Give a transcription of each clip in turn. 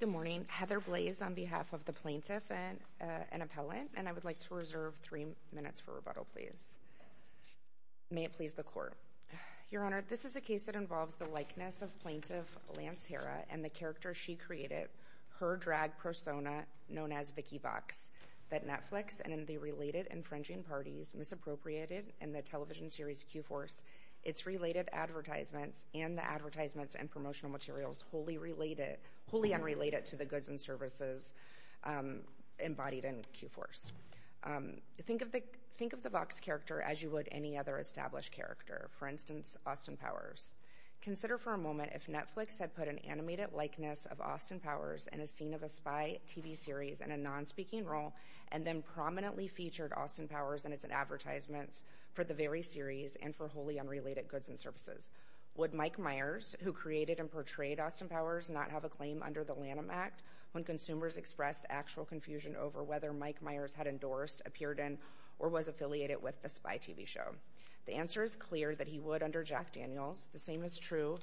Good morning. Heather Blaze on behalf of the plaintiff and an appellant, and I would like to reserve three minutes for rebuttal, please. May it please the court. Your Honor, this is a case that involves the likeness of plaintiff Lance Hara and the character she created, her drag persona known as Vicky Box, that Netflix and the related infringing parties misappropriated in the television series Q-Force, its related advertisements, and the advertisements and promotional materials wholly unrelated to the goods and services embodied in Q-Force. Think of the Box character as you would any other established character, for instance, Austin Powers. Consider for a moment if Netflix had put an animated likeness of Austin Powers in a scene of a spy TV series in a non-speaking role and then prominently featured Austin Powers and its advertisements for the very series and for wholly unrelated goods and services. Would Mike Myers, who created and portrayed Austin Powers, not have a claim under the Lanham Act when consumers expressed actual confusion over whether Mike Myers had endorsed, appeared in, or was affiliated with the spy TV show? The answer is clear that he would under Jack Daniels. The same is true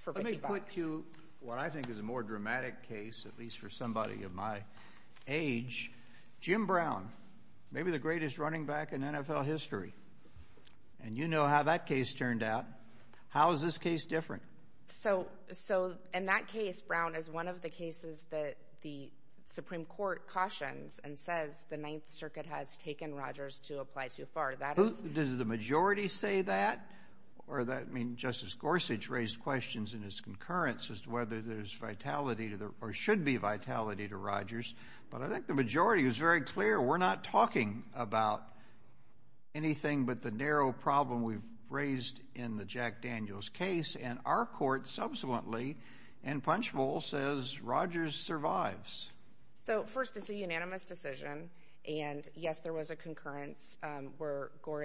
for Vicky Box. Let me put to you what I think is a more dramatic case, at least for somebody of my age. Jim Brown, maybe the greatest running back in NFL history, and you know how that case turned out. How is this case different? So in that case, Brown, is one of the cases that the Supreme Court cautions and says the Ninth Circuit has taken Rodgers to apply too far. Does the majority say that? Or that, I mean, Justice Gorsuch raised questions in his concurrence as to whether there's vitality to the, or should be vitality to Rodgers. But I think the majority is very clear. We're not talking about anything but the narrow problem we've raised in the Jack Daniels case. And our court subsequently, in Punchbowl, says Rodgers survives. So first, it's a unanimous decision. And yes, there was a concurrence.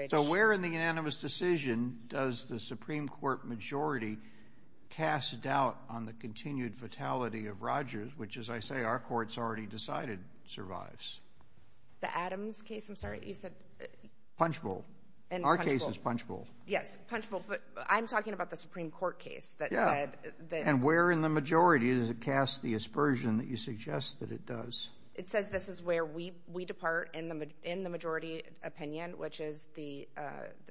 So where in the unanimous decision does the Supreme Court majority cast doubt on the continued fatality of Rodgers, which, as I say, our courts already decided survives? The Adams case, I'm sorry? You said... Punchbowl. Our case is Punchbowl. Yes, Punchbowl. But I'm talking about the Supreme Court case that said... And where in the majority does it cast the aspersion that you suggest that it does? It says this is where we depart in the majority opinion, which is the,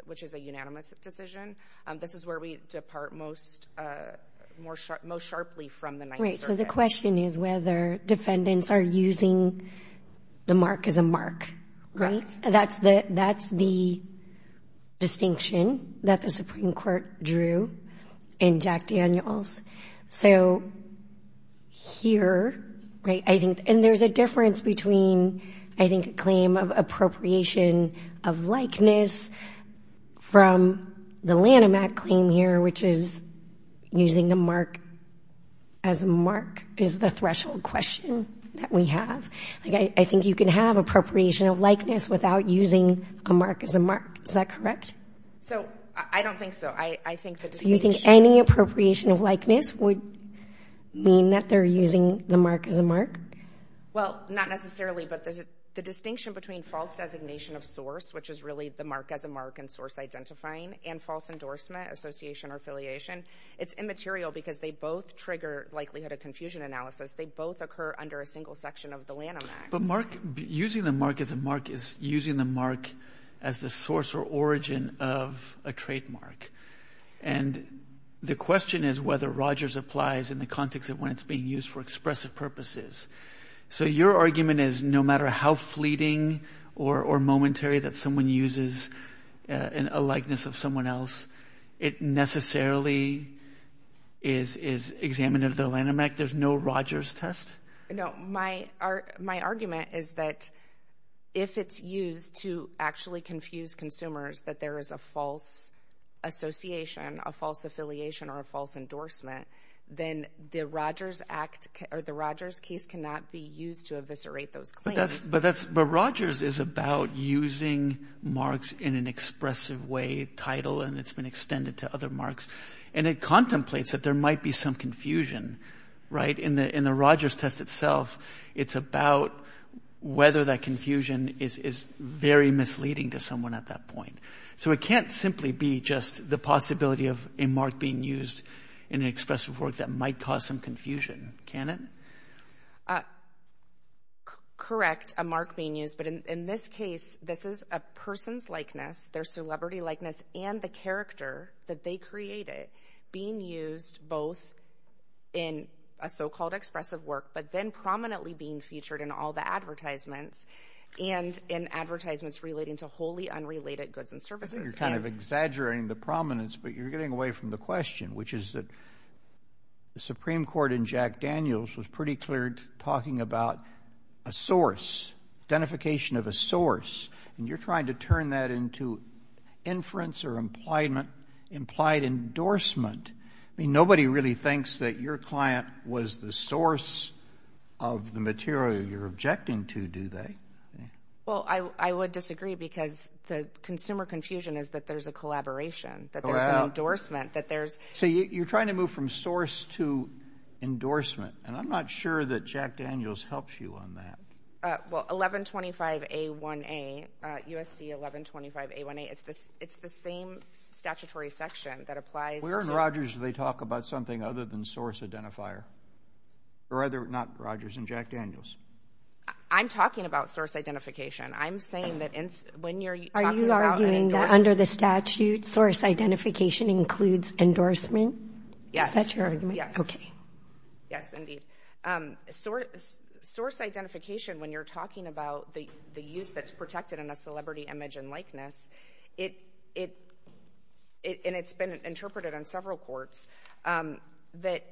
which is a unanimous decision. This is where we depart most sharply from the Ninth Circuit. So the question is whether defendants are using the mark as a mark, right? That's the distinction that the Supreme Court drew in Jack Daniels. So here, right, I think, and there's a difference between, I think, a claim of appropriation of likeness from the Lanham Act claim here, which is using the mark as a mark is the threshold question that we have. I think you can have appropriation of likeness without using a mark as a mark. Is that correct? So I don't think so. I think that... So you think any appropriation of likeness would mean that they're using the mark as a mark? Well, not necessarily, but there's a distinction between false designation of source, which is really the mark as a mark and source identifying, and false endorsement, association, or affiliation. It's immaterial because they both trigger likelihood of confusion analysis. They both occur under a single section of the Lanham Act. But mark, using the mark as a mark is using the mark as the source or origin of a trademark. And the question is whether Rogers applies in the context of when it's being used for expressive purposes. So your argument is no matter how fleeting or momentary that someone uses a likeness of someone else, it necessarily is examined under the Lanham Act? There's no Rogers test? No. My argument is that if it's used to actually confuse consumers that there is a false association, a false affiliation, or a false endorsement, then the Rogers case cannot be used to eviscerate those claims. But Rogers is about using marks in an expressive way, title, and it's been extended to other marks, and it contemplates that there might be some confusion, right? In the Rogers test itself, it's about whether that confusion is very misleading to someone at that point. So it can't simply be just the possibility of a mark being used in an expressive work that might cause some confusion, can it? Correct, a mark being used. But in this case, this is a person's likeness, their celebrity likeness, and the character that they created being used both in a so-called expressive work, but then prominently being featured in all the advertisements, and in advertisements relating to wholly unrelated goods and services. You're kind of exaggerating the prominence, but you're getting away from the question, which is that the Supreme Court in Jack Daniels was pretty clear talking about a source, identification of a source, and you're trying to turn that into inference or implied endorsement. I mean, nobody really thinks that your client was the source of the material you're objecting to, do they? Well, I would disagree because the consumer confusion is that there's a collaboration, that there's an endorsement, that there's... So you're trying to move from source to endorsement, and I'm not sure that Jack Daniels helps you on that. Well, 1125A1A, USC 1125A1A, it's the same statutory section that applies... Where in Rogers do they talk about something other than source identifier? Or are there not Rogers in Jack Daniels? I'm talking about source identification includes endorsement? Yes. Is that your argument? Yes. Okay. Yes, indeed. Source identification, when you're talking about the use that's protected in a celebrity image and likeness, and it's been interpreted on several courts, that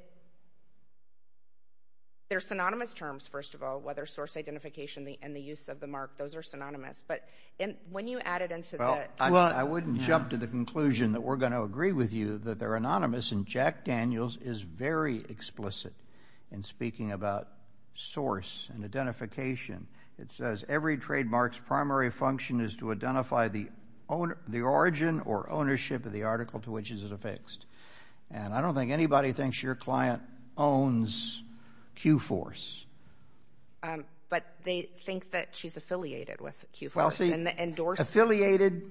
they're synonymous terms, first of all, whether source identification and the use of the mark, those are synonymous. But when you add it into the... Well, I wouldn't jump to the conclusion that we're going to agree with you that they're anonymous, and Jack Daniels is very explicit in speaking about source and identification. It says, every trademark's primary function is to identify the origin or ownership of the article to which it is affixed. And I don't think anybody thinks your client owns Q-Force. But they think that she's affiliated with Q-Force. Affiliated,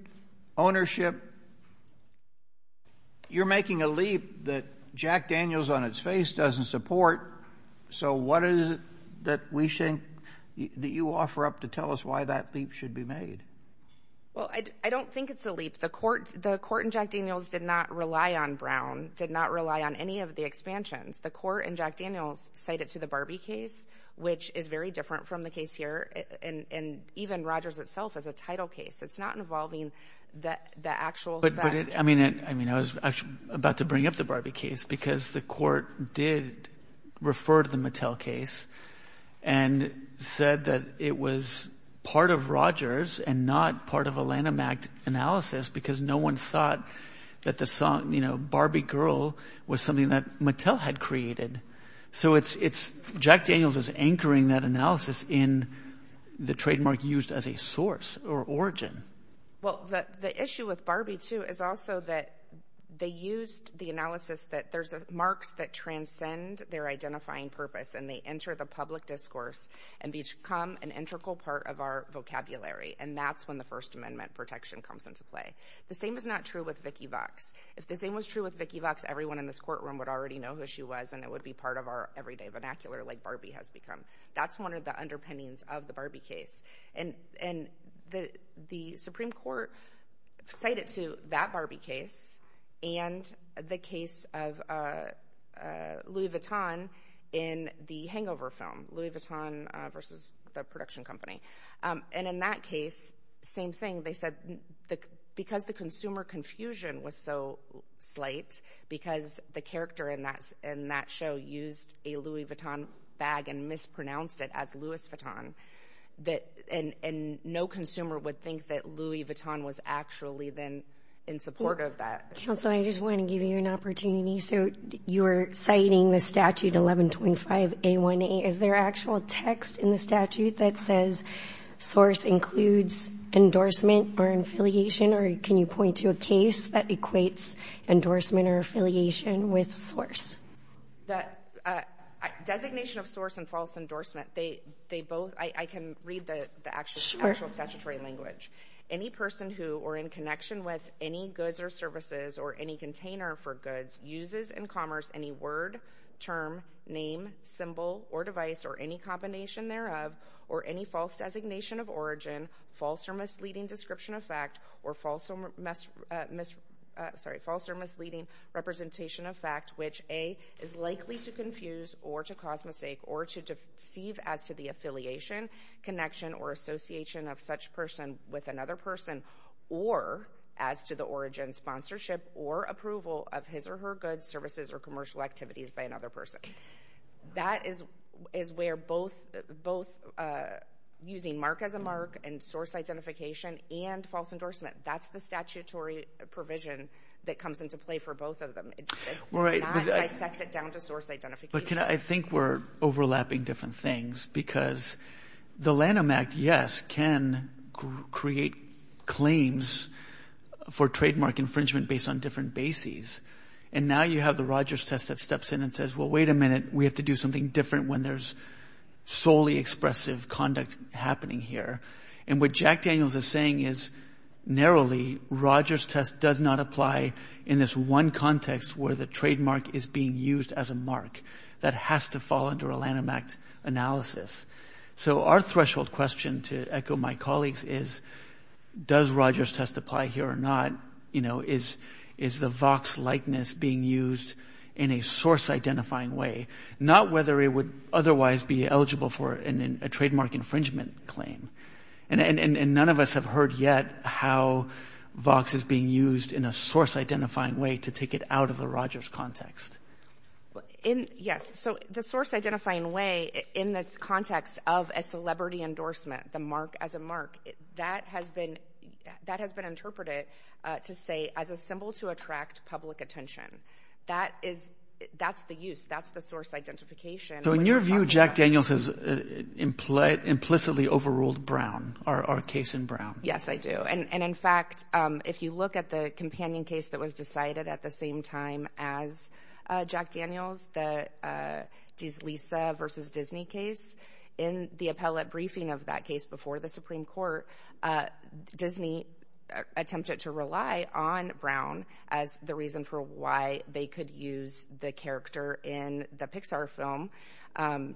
ownership. You're making a leap that Jack Daniels on its face doesn't support. So what is it that we think that you offer up to tell us why that leap should be made? Well, I don't think it's a leap. The court in Jack Daniels did not rely on Brown, did not rely on any of the expansions. The court in Jack Daniels cited to the Barbie case, which is very different from the case here, and even Rogers itself as a title case. It's not involving the actual... I mean, I was actually about to bring up the Barbie case because the court did refer to the Mattel case and said that it was part of Rogers and not part of a Lanham Act analysis because no one thought that the song, you know, Barbie Girl was something that Mattel had created. So it's... Jack Daniels is anchoring that analysis in the trademark used as a source or origin. Well, the issue with Barbie, too, is also that they used the analysis that there's marks that transcend their identifying purpose and they enter the public discourse and become an integral part of our vocabulary. And that's when the First Amendment protection comes into play. The same is not true with Vicki Vox. If the same was true with Vicki Vox, everyone in this courtroom would already know who she was and it would be part of our everyday vernacular like Barbie has become. That's one of the underpinnings of the Barbie case. And the Supreme Court cited to that Barbie case and the case of Louis Vuitton in the Hangover film, Louis Vuitton versus the production company. And in that case, same thing, they said because the consumer confusion was so slight because the character in that show used a Louis Vuitton bag and mispronounced it as Louis Vuitton. And no consumer would think that Louis Vuitton was actually then in support of that. Counsel, I just want to give you an opportunity. So you're citing the statute 1125 A1A. Is there actual text in the statute that says source includes endorsement or affiliation? Or can you point to a case that equates endorsement or affiliation with source? The designation of source and false endorsement, they both, I can read the actual statutory language. Any person who or in connection with any goods or services or any container for goods uses in commerce any word, term, name, symbol or device or any combination thereof or any false designation of origin, false or misleading description of fact, or false or misleading representation of fact, which A, is likely to confuse or to cause mistake or to deceive as to the affiliation, connection or association of such person with another person or as to the origin, sponsorship or approval of his or her goods, services or commercial activities by another person. That is where both using mark as a mark and source identification and false endorsement. That's the statutory provision that comes into play for both of them. It's not dissected down to source identification. But can I think we're overlapping different things because the Lanham Act, yes, can create claims for trademark infringement based on different bases. And now you have the Rogers test that steps in and says, well, wait a minute, we have to do something different when there's solely expressive conduct happening here. And what Jack Daniels is saying is, narrowly, Rogers test does not apply in this one context where the trademark is being used as a mark that has to fall under a Lanham Act analysis. So our threshold question to echo my colleagues is, does Rogers test apply here or not? You know, is the Vox likeness being used in a source identifying way, not whether it would otherwise be eligible for a trademark infringement claim? And none of us have heard yet how Vox is being used in a source identifying way to take it out of the Rogers context. Yes. So the source identifying way in the context of a celebrity endorsement, the mark as a mark, that has been that has been interpreted to say as a symbol to attract public attention. That is, that's the use, that's the source identification. So in your view, Jack Daniels has implicitly overruled Brown, our case in Brown? Yes, I do. And in fact, if you look at the companion case that was decided at the same time as Jack Daniels, the Lisa versus Disney case, in the appellate briefing of that case before the Supreme Court, Disney attempted to rely on Brown as the reason for why they could use the character in the Pixar film,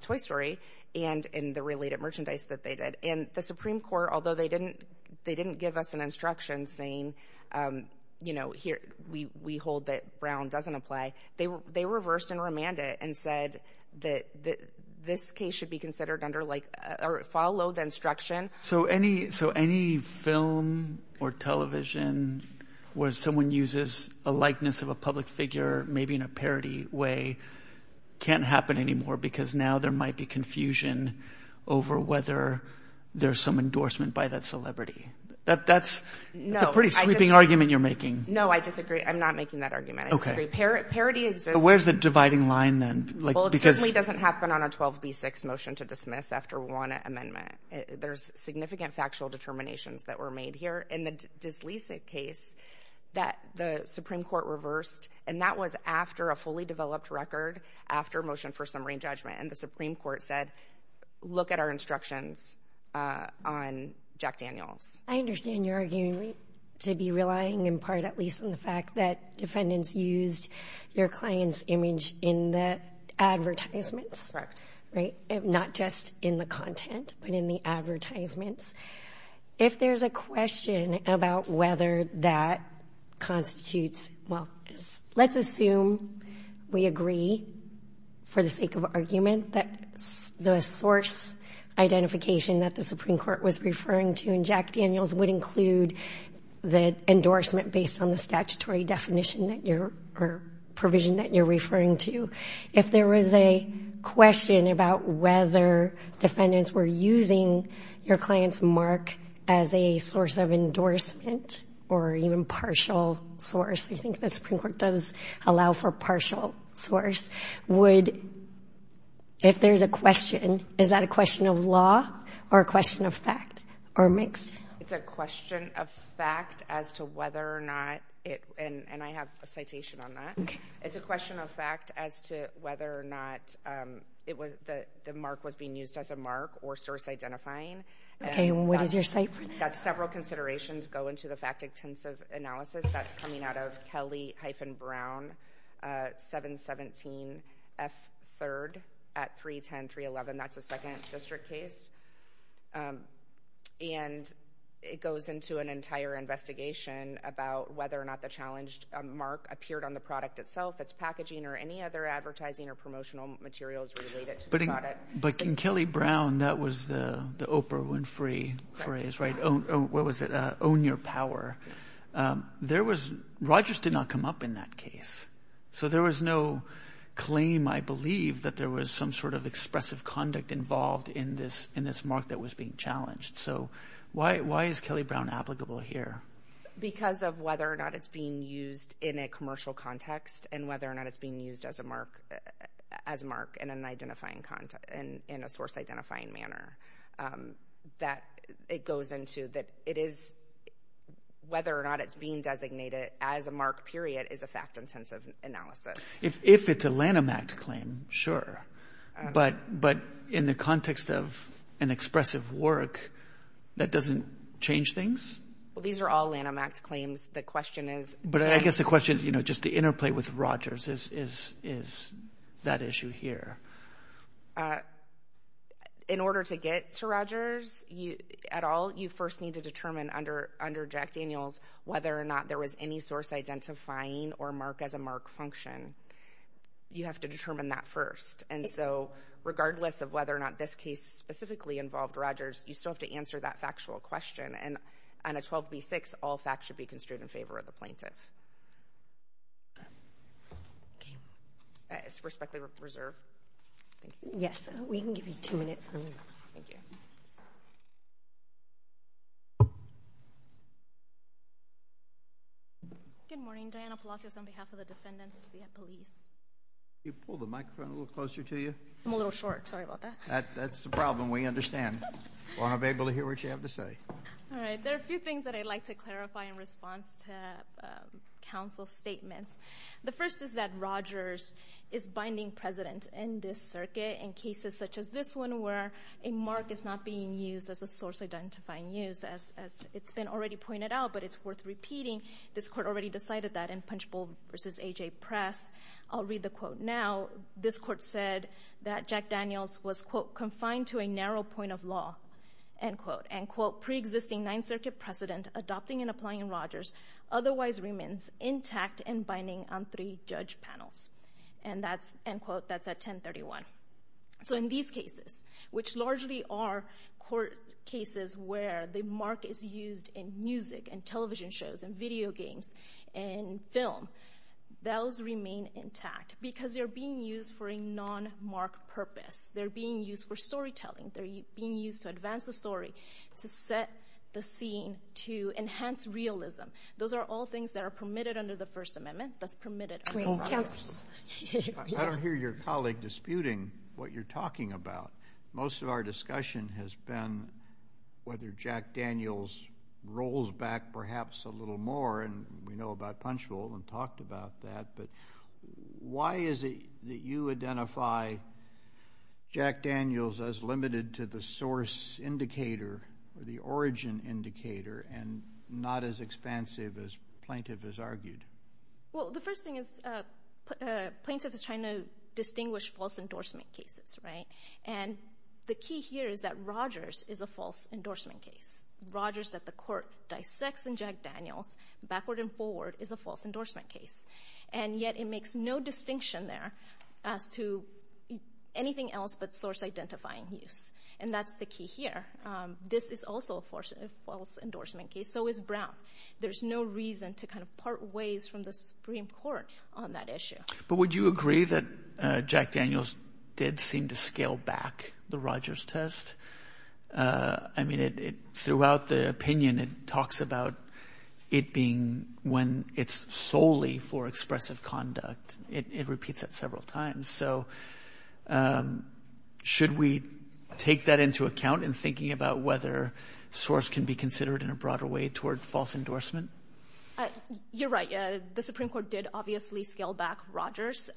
Toy Story, and in the related merchandise that they did. And the Supreme Court, although they didn't, they didn't give us an instruction saying, you know, here, we hold that Brown doesn't apply. They were, they reversed and remanded and said that this case should be considered under like, follow the instruction. So any, so any film or television where someone uses a likeness of a public figure, maybe in a parody way, can't happen anymore, because now there might be confusion over whether there's some endorsement by that celebrity. That's a pretty sweeping argument you're making. No, I disagree. I'm not making that argument. Okay. Parody exists. Where's the dividing line then? Well, it certainly doesn't happen on a 12b6 motion to dismiss after one amendment. There's significant factual determinations that were made here in the disleasing case that the Supreme Court reversed. And that was after a fully developed record after motion for summary judgment. And the Supreme Court said, look at our instructions on Jack Daniels. I understand you're arguing to be relying in part, at least in the fact that defendants used your client's image in the advertisements, right? Not just in the content, but in the advertisements. If there's a question about whether that constitutes, well, let's assume we agree, for the sake of argument, that the source identification that the Supreme Court was referring to in Jack Daniels would include the endorsement based on the statutory definition that you're, or provision that you're referring to. If there was a question about whether defendants were using your client's mark as a source of endorsement or even partial source, I think the Supreme Court does allow for partial source, would, if there's a question, is that a question of law or a question of fact or mixed? It's a question of fact as to whether or not it, and I have a citation on that, it's a mark or source identifying. Okay, what is your state? That's several considerations go into the fact-intensive analysis that's coming out of Kelly-Brown, 717F3rd at 310, 311. That's a second district case, and it goes into an entire investigation about whether or not the challenged mark appeared on the product itself, its packaging, or any other advertising or promotional materials related to the product. But in Kelly-Brown, that was the Oprah Winfrey phrase, right? What was it? Own your power. There was, Rogers did not come up in that case, so there was no claim, I believe, that there was some sort of expressive conduct involved in this mark that was being challenged. So why is Kelly-Brown applicable here? Because of whether or not it's being used in a commercial context, and whether or not it's being used as a mark in an identifying context, in a source-identifying manner. That, it goes into that it is, whether or not it's being designated as a mark, period, is a fact-intensive analysis. If it's a Lanham Act claim, sure, but in the context of an expressive work, that doesn't change things? Well, these are all Lanham Act claims. The question is... But I guess the question, you know, just the interplay with Rogers is that issue here. In order to get to Rogers, at all, you first need to determine under Jack Daniels whether or not there was any source-identifying or mark-as-a-mark function. You have to determine that first. And so, regardless of whether or not this case specifically involved Rogers, you still have to answer that factual question. And on a 12b6, all facts should be construed in favor of the plaintiff. It's respectfully reserved. Yes, we can give you two minutes. Good morning, Diana Palacios on behalf of the defendants, the police. Can you pull the microphone a little closer to you? I'm a little short, sorry about that. That's the problem, we understand. We want to be able to hear what you have to say. All right, there are a few things that I'd like to clarify in response to counsel's statements. The first is that Rogers is binding precedent in this circuit in cases such as this one, where a mark is not being used as a source-identifying use. As it's been already pointed out, but it's worth repeating, this court already decided that in Punchbowl v. AJ Press. I'll read the quote now. This court said that Jack Daniels was, quote, confined to a narrow point of law, end quote. And, quote, pre-existing Ninth Circuit precedent adopting and applying Rogers otherwise remains intact and binding on three judge panels. And that's, end quote, that's at 1031. So in these cases, which largely are court cases where the mark is used in music, and television shows, and video games, and film, those remain intact because they're being used for a non-mark purpose. They're being used for storytelling. They're being used to advance the story, to set the scene, to enhance realism. Those are all things that are permitted under the First Amendment, thus permitted under Rogers. I don't hear your colleague disputing what you're talking about. Most of our discussion has been whether Jack Daniels rolls back perhaps a little more, and we know about Punchbowl and talked about that, but why is it that you identify Jack Daniels as limited to the source indicator, or the origin indicator, and not as expansive as plaintiff has argued? Well, the first thing is plaintiff is trying to distinguish false endorsement cases, right? And the key here is that Rogers is a false endorsement case. Rogers that the court dissects in Jack Daniels, backward and forward, is a false endorsement case, and yet it makes no distinction there as to anything else but source identifying use, and that's the key here. This is also a false endorsement case, so is Brown. There's no reason to kind of part ways from the Supreme Court on that issue. But would you agree that Jack Daniels did seem to scale back the Rogers test? I mean, throughout the opinion it talks about it being when it's solely for expressive conduct. It repeats it several times. So should we take that into account in thinking about whether source can be considered in a broader way toward false endorsement? You're right. The Supreme Court did obviously scale back Rogers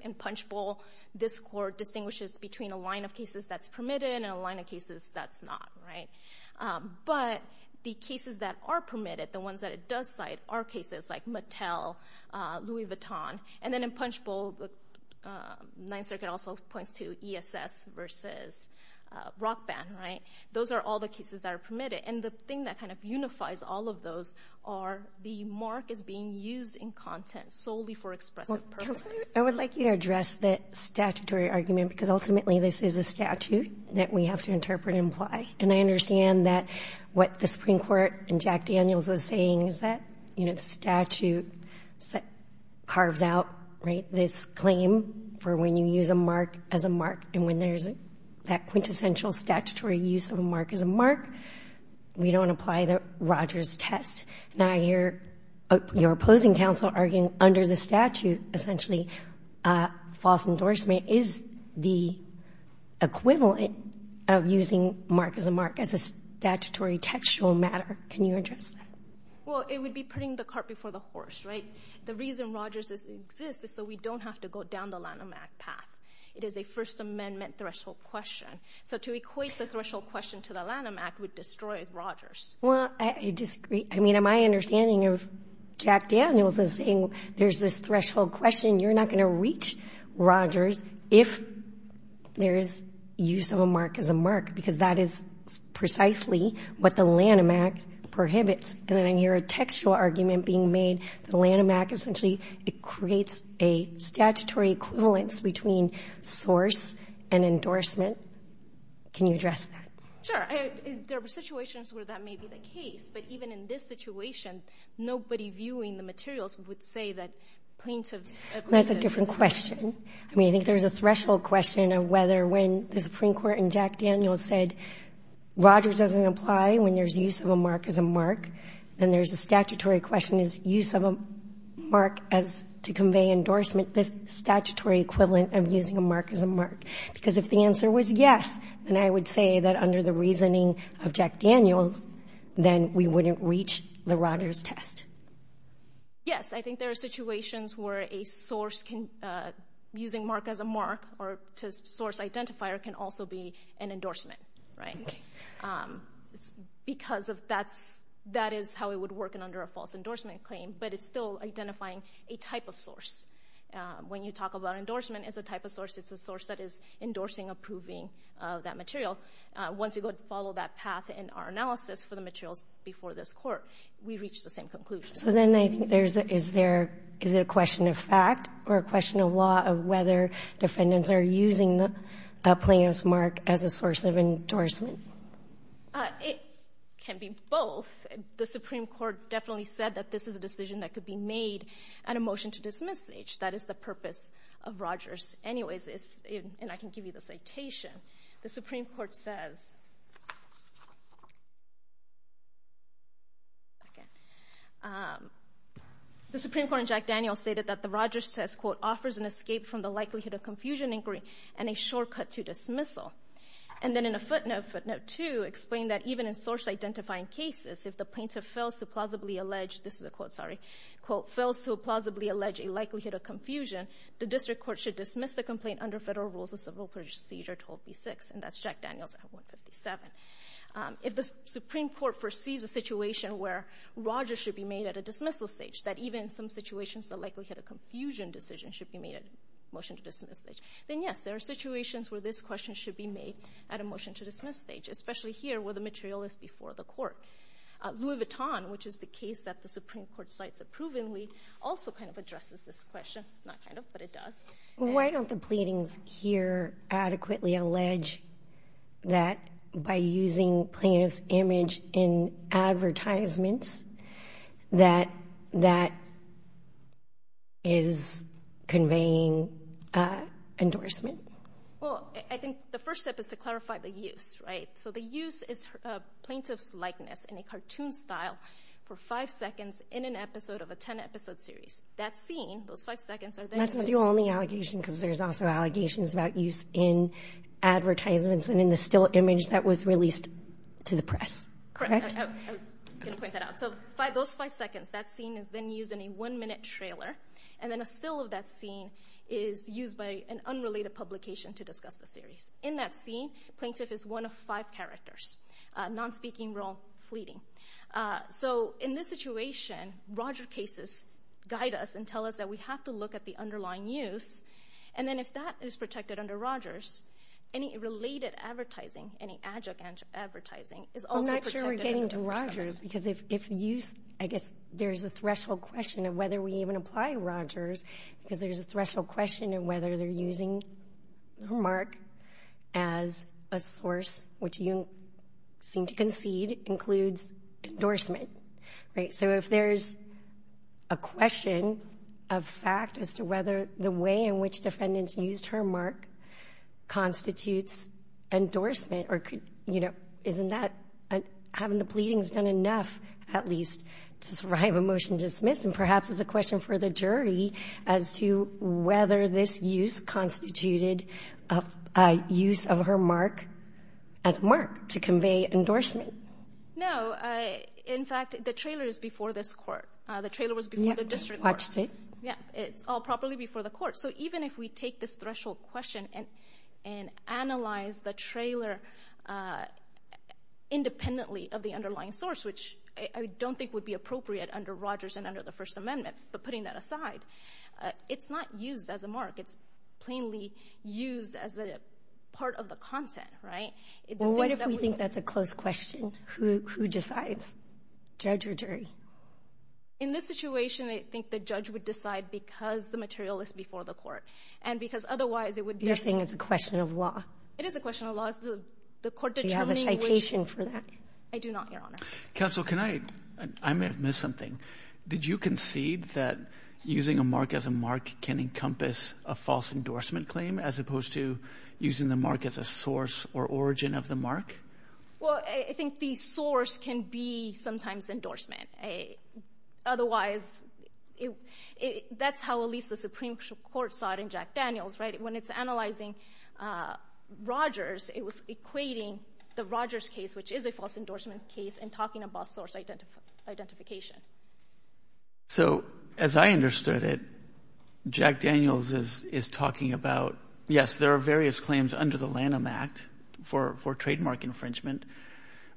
in Punchbowl. This court distinguishes between a line of cases that's permitted and a line of cases that's not, right? But the cases that are permitted, the ones that it does cite, are cases like Mattel, Louis Vuitton, and then in Punchbowl, the Ninth Circuit also points to ESS versus Rock Band, right? Those are all the cases that are permitted, and the thing that kind of unifies all of those are the mark is being used in content solely for expressive purposes. I would like you to address that statutory argument, because ultimately this is a statute that we have to interpret and apply, and I understand that what the Supreme Court and Jack Daniels are saying is that, you know, the statute carves out, right, this claim for when you use a mark as a mark, and when there's that quintessential statutory use of a mark as a mark, we don't apply the Rogers test. Now, I hear your opposing counsel arguing under the statute, essentially, false endorsement is the equivalent of using mark as a mark as a statutory textual matter. Can you address that? Well, it would be putting the cart before the horse, right? The reason Rogers exists is so we don't have to go down the Lanham Act path. It is a First Amendment threshold question. So to equate the threshold question to the Lanham Act would destroy Rogers. Well, I disagree. I mean, my understanding of Jack Daniels is saying there's this threshold question. You're not going to reach Rogers if there is use of a mark as a mark, because that is precisely what the Lanham Act prohibits. And then I hear a textual argument being made that the Lanham Act essentially creates a statutory equivalence between source and endorsement. Can you address that? Sure. There are situations where that may be the case. But even in this situation, nobody viewing the materials would say that plaintiff's acquittal is not true. That's a different question. I mean, I think there's a threshold question of whether when the Supreme Court in Jack Daniels said Rogers doesn't apply when there's use of a mark as a mark, then there's a statutory question. Is use of a mark as to convey endorsement the statutory equivalent of using a mark as a mark? Because if the answer was yes, then I would say that under the reasoning of Jack Daniels, then we wouldn't reach the Rogers test. Yes. I think there are situations where a source can, using mark as a mark or to source identifier can also be an endorsement, right? Because of that's, that is how it would work in under a false endorsement claim. But it's still identifying a type of source. When you talk about endorsement as a type of source, it's a source that is endorsing approving of that material. Once you go and follow that path in our analysis for the materials before this Court, we reach the same conclusion. So then I think there's a, is there, is it a question of fact or a question of law of whether defendants are using a plaintiff's mark as a source of endorsement? It can be both. The Supreme Court definitely said that this is a decision that could be made at a motion to dismissage. That is the purpose of Rogers anyways. It's, and I can give you the citation. The Supreme Court says, the Supreme Court in Jack Daniels stated that the Rogers test quote, offers an escape from the likelihood of confusion inquiry and a shortcut to dismissal. And then in a footnote, footnote two, explained that even in source identifying cases, if the plaintiff fails to plausibly allege, this is a quote, sorry, quote, fails to plausibly allege a likelihood of confusion, the district court should dismiss the complaint under federal rules of civil procedure 12B6. And that's Jack Daniels at 157. If the Supreme Court foresees a situation where Rogers should be made at a dismissal stage, that even in some situations the likelihood of confusion decision should be made at motion to dismiss stage, then yes, there are situations where this question should be made at a motion to dismiss stage, especially here where the material is before the Court. Louis Vuitton, which is the case that the Supreme Court cites approvingly, also kind of addresses this question. Not kind of, but it does. Why don't the pleadings here adequately allege that by using plaintiff's image in advertisements, that that is conveying endorsement? Well, I think the first step is to clarify the use, right? So the use is plaintiff's likeness in a cartoon style for five seconds in an episode of a 10-episode series. That scene, those five seconds are there. And that's the only allegation because there's also allegations about use in advertisements and in the still image that was released to the press, correct? I was going to point that out. So those five seconds, that scene is then used in a one-minute trailer, and then a still of that scene is used by an unrelated publication to discuss the series. In that scene, plaintiff is one of five characters, non-speaking role fleeting. So in this situation, Roger cases guide us and tell us that we have to look at the underlying use, and then if that is protected under Rogers, any related advertising, any adjunct advertising is also protected. I'm not sure we're getting to Rogers because if use, I guess there's a threshold question of whether we even apply Rogers because there's a threshold question of whether they're using her mark as a source, which you seem to concede includes endorsement, right? So if there's a question of fact as to whether the way in which defendants used her mark constitutes endorsement or could, you know, isn't that having the pleadings done enough at least to survive a motion dismissed? And perhaps it's a question for the jury as to whether this use constituted a use of her mark as mark to convey endorsement. No, in fact, the trailer is before this court. The trailer was before the district court. Yeah, it's all properly before the court. So even if we take this threshold question and analyze the trailer independently of the underlying source, which I don't think would be appropriate under Rogers and under the First Amendment, but putting that aside, it's not used as a mark. It's plainly used as a part of the content, right? What if we think that's a close question? Who decides? Judge or jury? In this situation, I think the judge would decide because the material is before the court and because otherwise it would be... You're saying it's a question of law. It is a question of law. Is the court determining... Do you have a citation for that? I do not, Your Honor. I may have missed something. Did you concede that using a mark as a mark can encompass a false endorsement claim as opposed to using the mark as a source or origin of the mark? Well, I think the source can be sometimes endorsement. Otherwise, that's how at least the Supreme Court saw it in Jack Daniels, right? When it's analyzing Rogers, it was equating the Rogers case, which is a source identification. So as I understood it, Jack Daniels is talking about, yes, there are various claims under the Lanham Act for trademark infringement,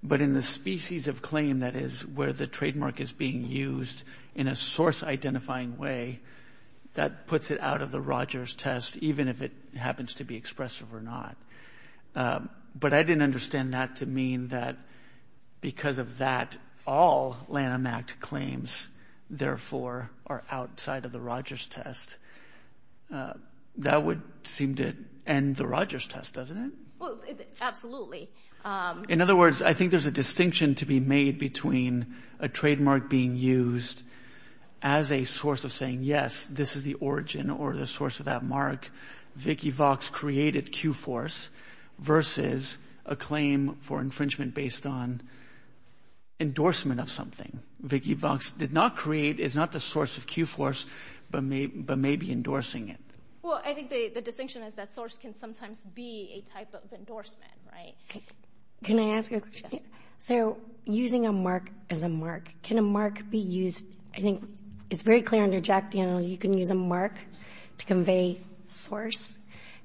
but in the species of claim that is where the trademark is being used in a source-identifying way, that puts it out of the Rogers test even if it happens to be expressive or not. But I didn't understand that to mean that because of that all Lanham Act claims, therefore, are outside of the Rogers test. That would seem to end the Rogers test, doesn't it? Well, absolutely. In other words, I think there's a distinction to be made between a trademark being used as a source of saying, yes, this is the origin or the source of that mark. Vicki Vox did not create, is not the source of Q-Force, but maybe endorsing it. Well, I think the distinction is that source can sometimes be a type of endorsement, right? Can I ask you a question? So using a mark as a mark, can a mark be used, I think it's very clear under Jack Daniels, you can use a mark to convey source.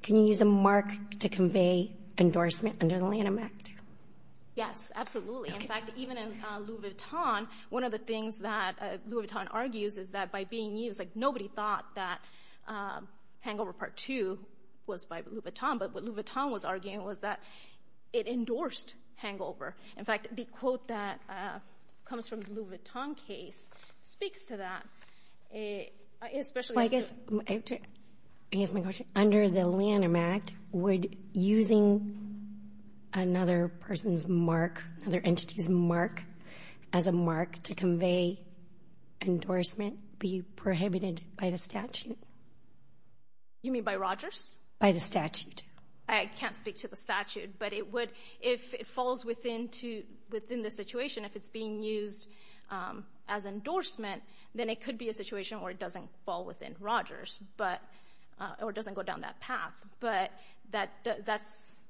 Can you use a mark to convey endorsement under the Lanham Act? Yes, absolutely. In fact, even in Louis Vuitton, one of the things that Louis Vuitton argues is that by being used, like nobody thought that Hangover Part 2 was by Louis Vuitton, but what Louis Vuitton was arguing was that it endorsed Hangover. In fact, the quote that comes from the Louis Vuitton case speaks to that. I guess my question, under the Lanham Act, would using another person's mark, another entity's mark, as a mark to convey endorsement be prohibited by the statute? You mean by Rogers? By the statute. I can't speak to the statute, but it would, if it falls within the situation, if it's being used as endorsement, then it could be a situation where it doesn't fall within Rogers, but or doesn't go down that path, but that's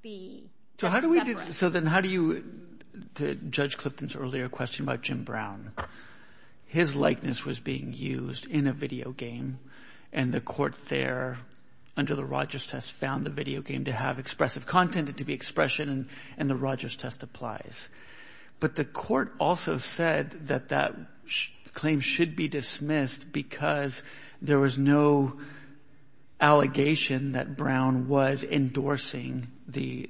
the difference. So then how do you, to Judge Clifton's earlier question about Jim Brown, his likeness was being used in a video game, and the court there, under the Rogers test, found the video game to have expressive content, it to be expression, and the Rogers test applies. But the court also said that that claim should be dismissed because there was no allegation that Brown was endorsing the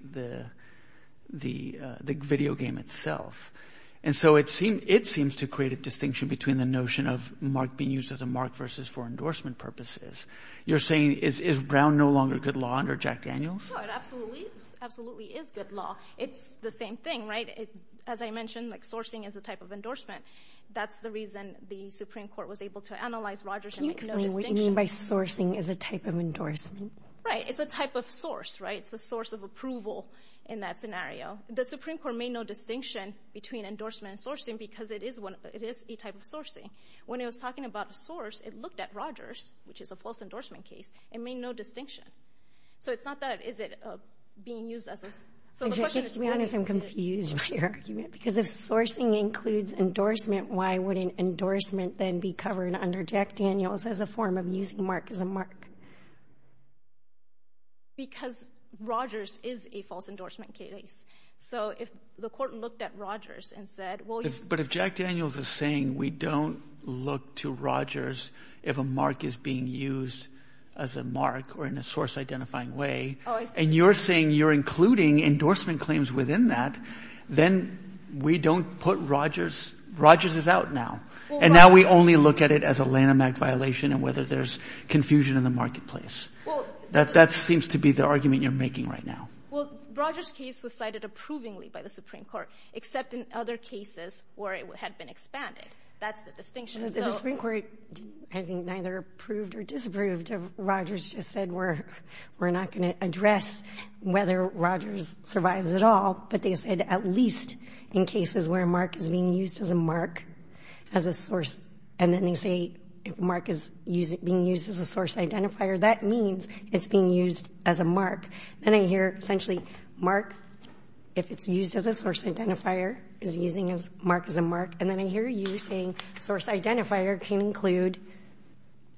video game itself. And so it seems to create a distinction between the notion of mark being used as a mark versus for endorsement purposes. You're saying is Brown no longer good law under Jack Daniels? No, it absolutely is good law. It's the same thing, right? As I mentioned, sourcing is a type of endorsement. That's the reason the Supreme Court was able to analyze Rogers and make no distinction. Can you explain what you mean by sourcing is a type of endorsement? Right, it's a type of source, right? It's a source of approval in that scenario. The Supreme Court made no distinction between endorsement and sourcing because it is one, it is a type of sourcing. When it was talking about a source, it looked at Rogers, which is a false endorsement case, and made no distinction. So it's not that, is it being used as a... To be honest, I'm confused by your argument because if sourcing includes endorsement, why wouldn't endorsement then be covered under Jack Daniels as a form of using Mark as a mark? Because Rogers is a false endorsement case. So if the court looked at Rogers and said... But if Jack Daniels is saying we don't look to Rogers if a mark is being used as a mark or in a source-identifying way, and you're saying you're including endorsement claims within that, then we don't put Rogers... Rogers is out now. And now we only look at it as a Lanham Act violation and whether there's confusion in the marketplace. That seems to be the argument you're making right now. Well, Rogers case was cited approvingly by the Supreme Court, except in other cases where it had been expanded. That's the distinction. The Supreme Court, I think, neither approved or disapproved of Rogers, just said we're not going to address whether Rogers survives at all, but they said at least in cases where Mark is being used as a mark, as a source, and then they say if Mark is being used as a source identifier, that means it's being used as a mark. Then I hear, essentially, Mark, if it's used as a source identifier, is using Mark as a mark. And then I hear you saying source identifier can include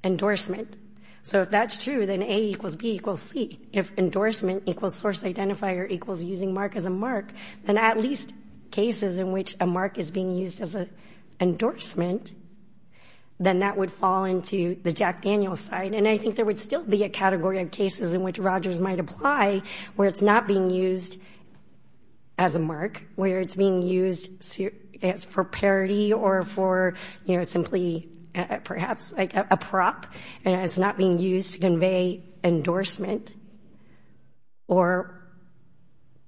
endorsement. So if that's true, then A equals B equals C. If endorsement equals source identifier equals using Mark as a endorsement, then that would fall into the Jack Daniels side. And I think there would still be a category of cases in which Rogers might apply where it's not being used as a mark, where it's being used for parity or for, you know, simply perhaps like a prop, and it's not being used to convey endorsement or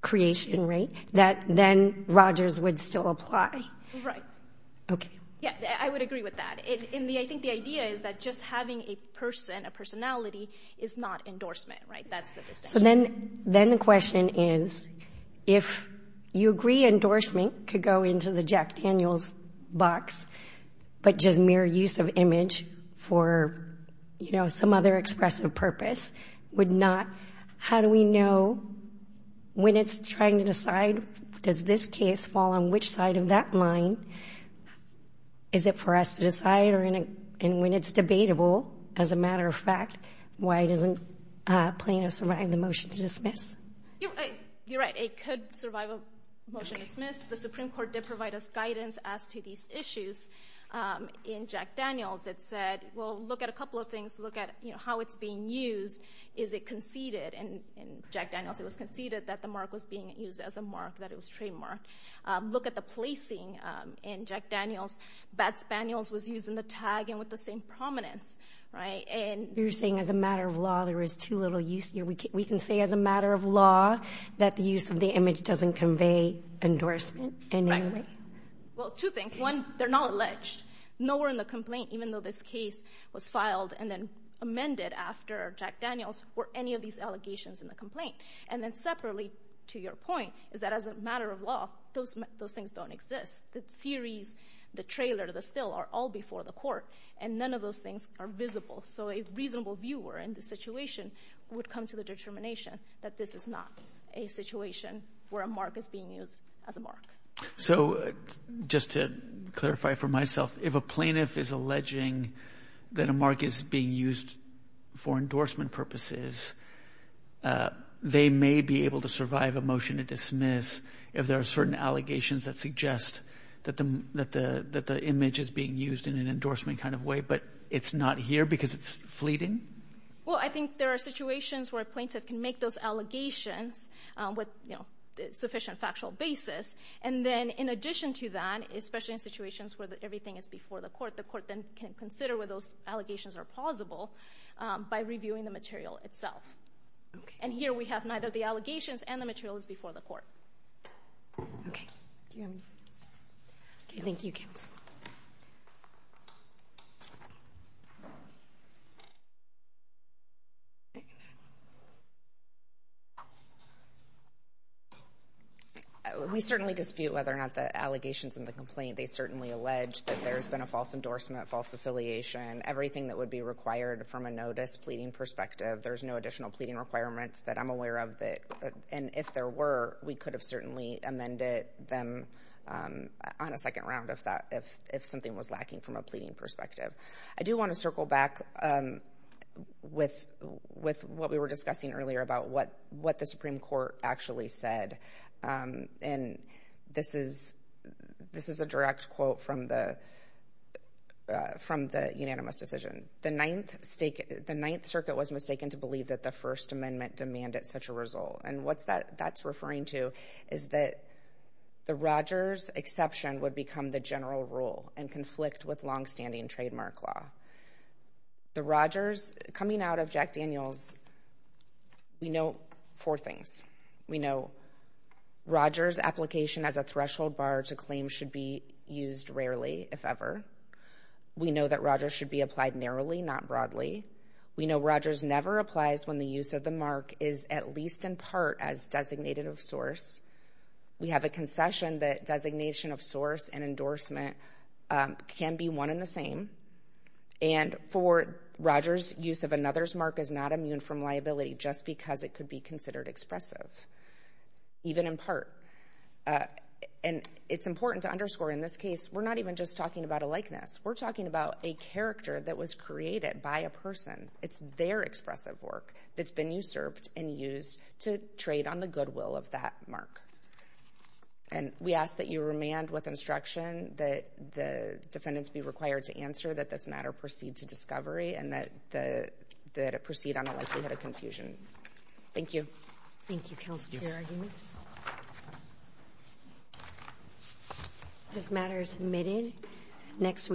creation, right? That then Rogers would still apply. Right. Okay. Yeah, I would agree with that. I think the idea is that just having a person, a personality, is not endorsement, right? That's the distinction. So then the question is, if you agree endorsement could go into the Jack Daniels box, but just mere use of image for, you know, some other expressive purpose would not, how do we know when it's trying to decide, does this case fall on which side of that line? Is it for us to decide? And when it's debatable, as a matter of fact, why doesn't Plano survive the motion to dismiss? You're right. It could survive a motion to dismiss. The Supreme Court did provide us guidance as to these issues. In Jack Daniels, it said, well, look at a couple of things. Look at, you know, how it's being used. Is it conceded? And in Jack Daniels, it was conceded that the tag was being used as a mark, that it was trademarked. Look at the placing in Jack Daniels. Bad Spaniels was used in the tag and with the same prominence, right? And you're saying as a matter of law, there is too little use here. We can say as a matter of law that the use of the image doesn't convey endorsement in any way? Well, two things. One, they're not alleged. Nowhere in the complaint, even though this case was filed and then amended after Jack Daniels, were any of these allegations in the complaint. And then separately, to your point, is that as a matter of law, those things don't exist. The theories, the trailer, the still are all before the court and none of those things are visible. So a reasonable viewer in this situation would come to the determination that this is not a situation where a mark is being used as a mark. So just to clarify for myself, if a plaintiff is alleging that a mark is being used for endorsement purposes, they may be able to survive a motion to dismiss if there are certain allegations that suggest that the image is being used in an endorsement kind of way, but it's not here because it's fleeting? Well, I think there are situations where a plaintiff can make those allegations with, you know, sufficient factual basis. And then in addition to that, especially in situations where everything is before the court, the court then can consider whether those allegations are plausible by reviewing the material itself. And here we have neither the allegations and the materials before the court. Thank you, Counsel. We certainly dispute whether or not the allegations in the complaint. They everything that would be required from a notice pleading perspective. There's no additional pleading requirements that I'm aware of that. And if there were, we could have certainly amended them on a second round of that if if something was lacking from a pleading perspective. I do want to circle back with with what we were discussing earlier about what what the Supreme Court actually said. And this is this is a direct quote from the from the unanimous decision. The Ninth State, the Ninth Circuit was mistaken to believe that the First Amendment demanded such a result. And what's that? That's referring to is that the Rogers exception would become the general rule and conflict with longstanding trademark law. The Rogers coming out of Jack Daniels. We know four things. We know Rogers application as a threshold bar to claim should be used rarely. If ever, we know that Rogers should be applied narrowly, not broadly. We know Rogers never applies when the use of the mark is at least in part as designated of source. We have a concession that designation of source and endorsement can be one in the same. And for Rogers, use of another's mark is not immune from liability just because it could be considered expressive, even in part. And it's important to underscore in this case, we're not even just talking about a likeness. We're talking about a character that was created by a person. It's their expressive work that's been usurped and used to trade on the goodwill of that mark. And we ask that you remand with instruction that the defendants be required to answer that this matter proceed to discovery and that the proceed on the likelihood of confusion. Thank you. Thank you. Council. This matter is submitted next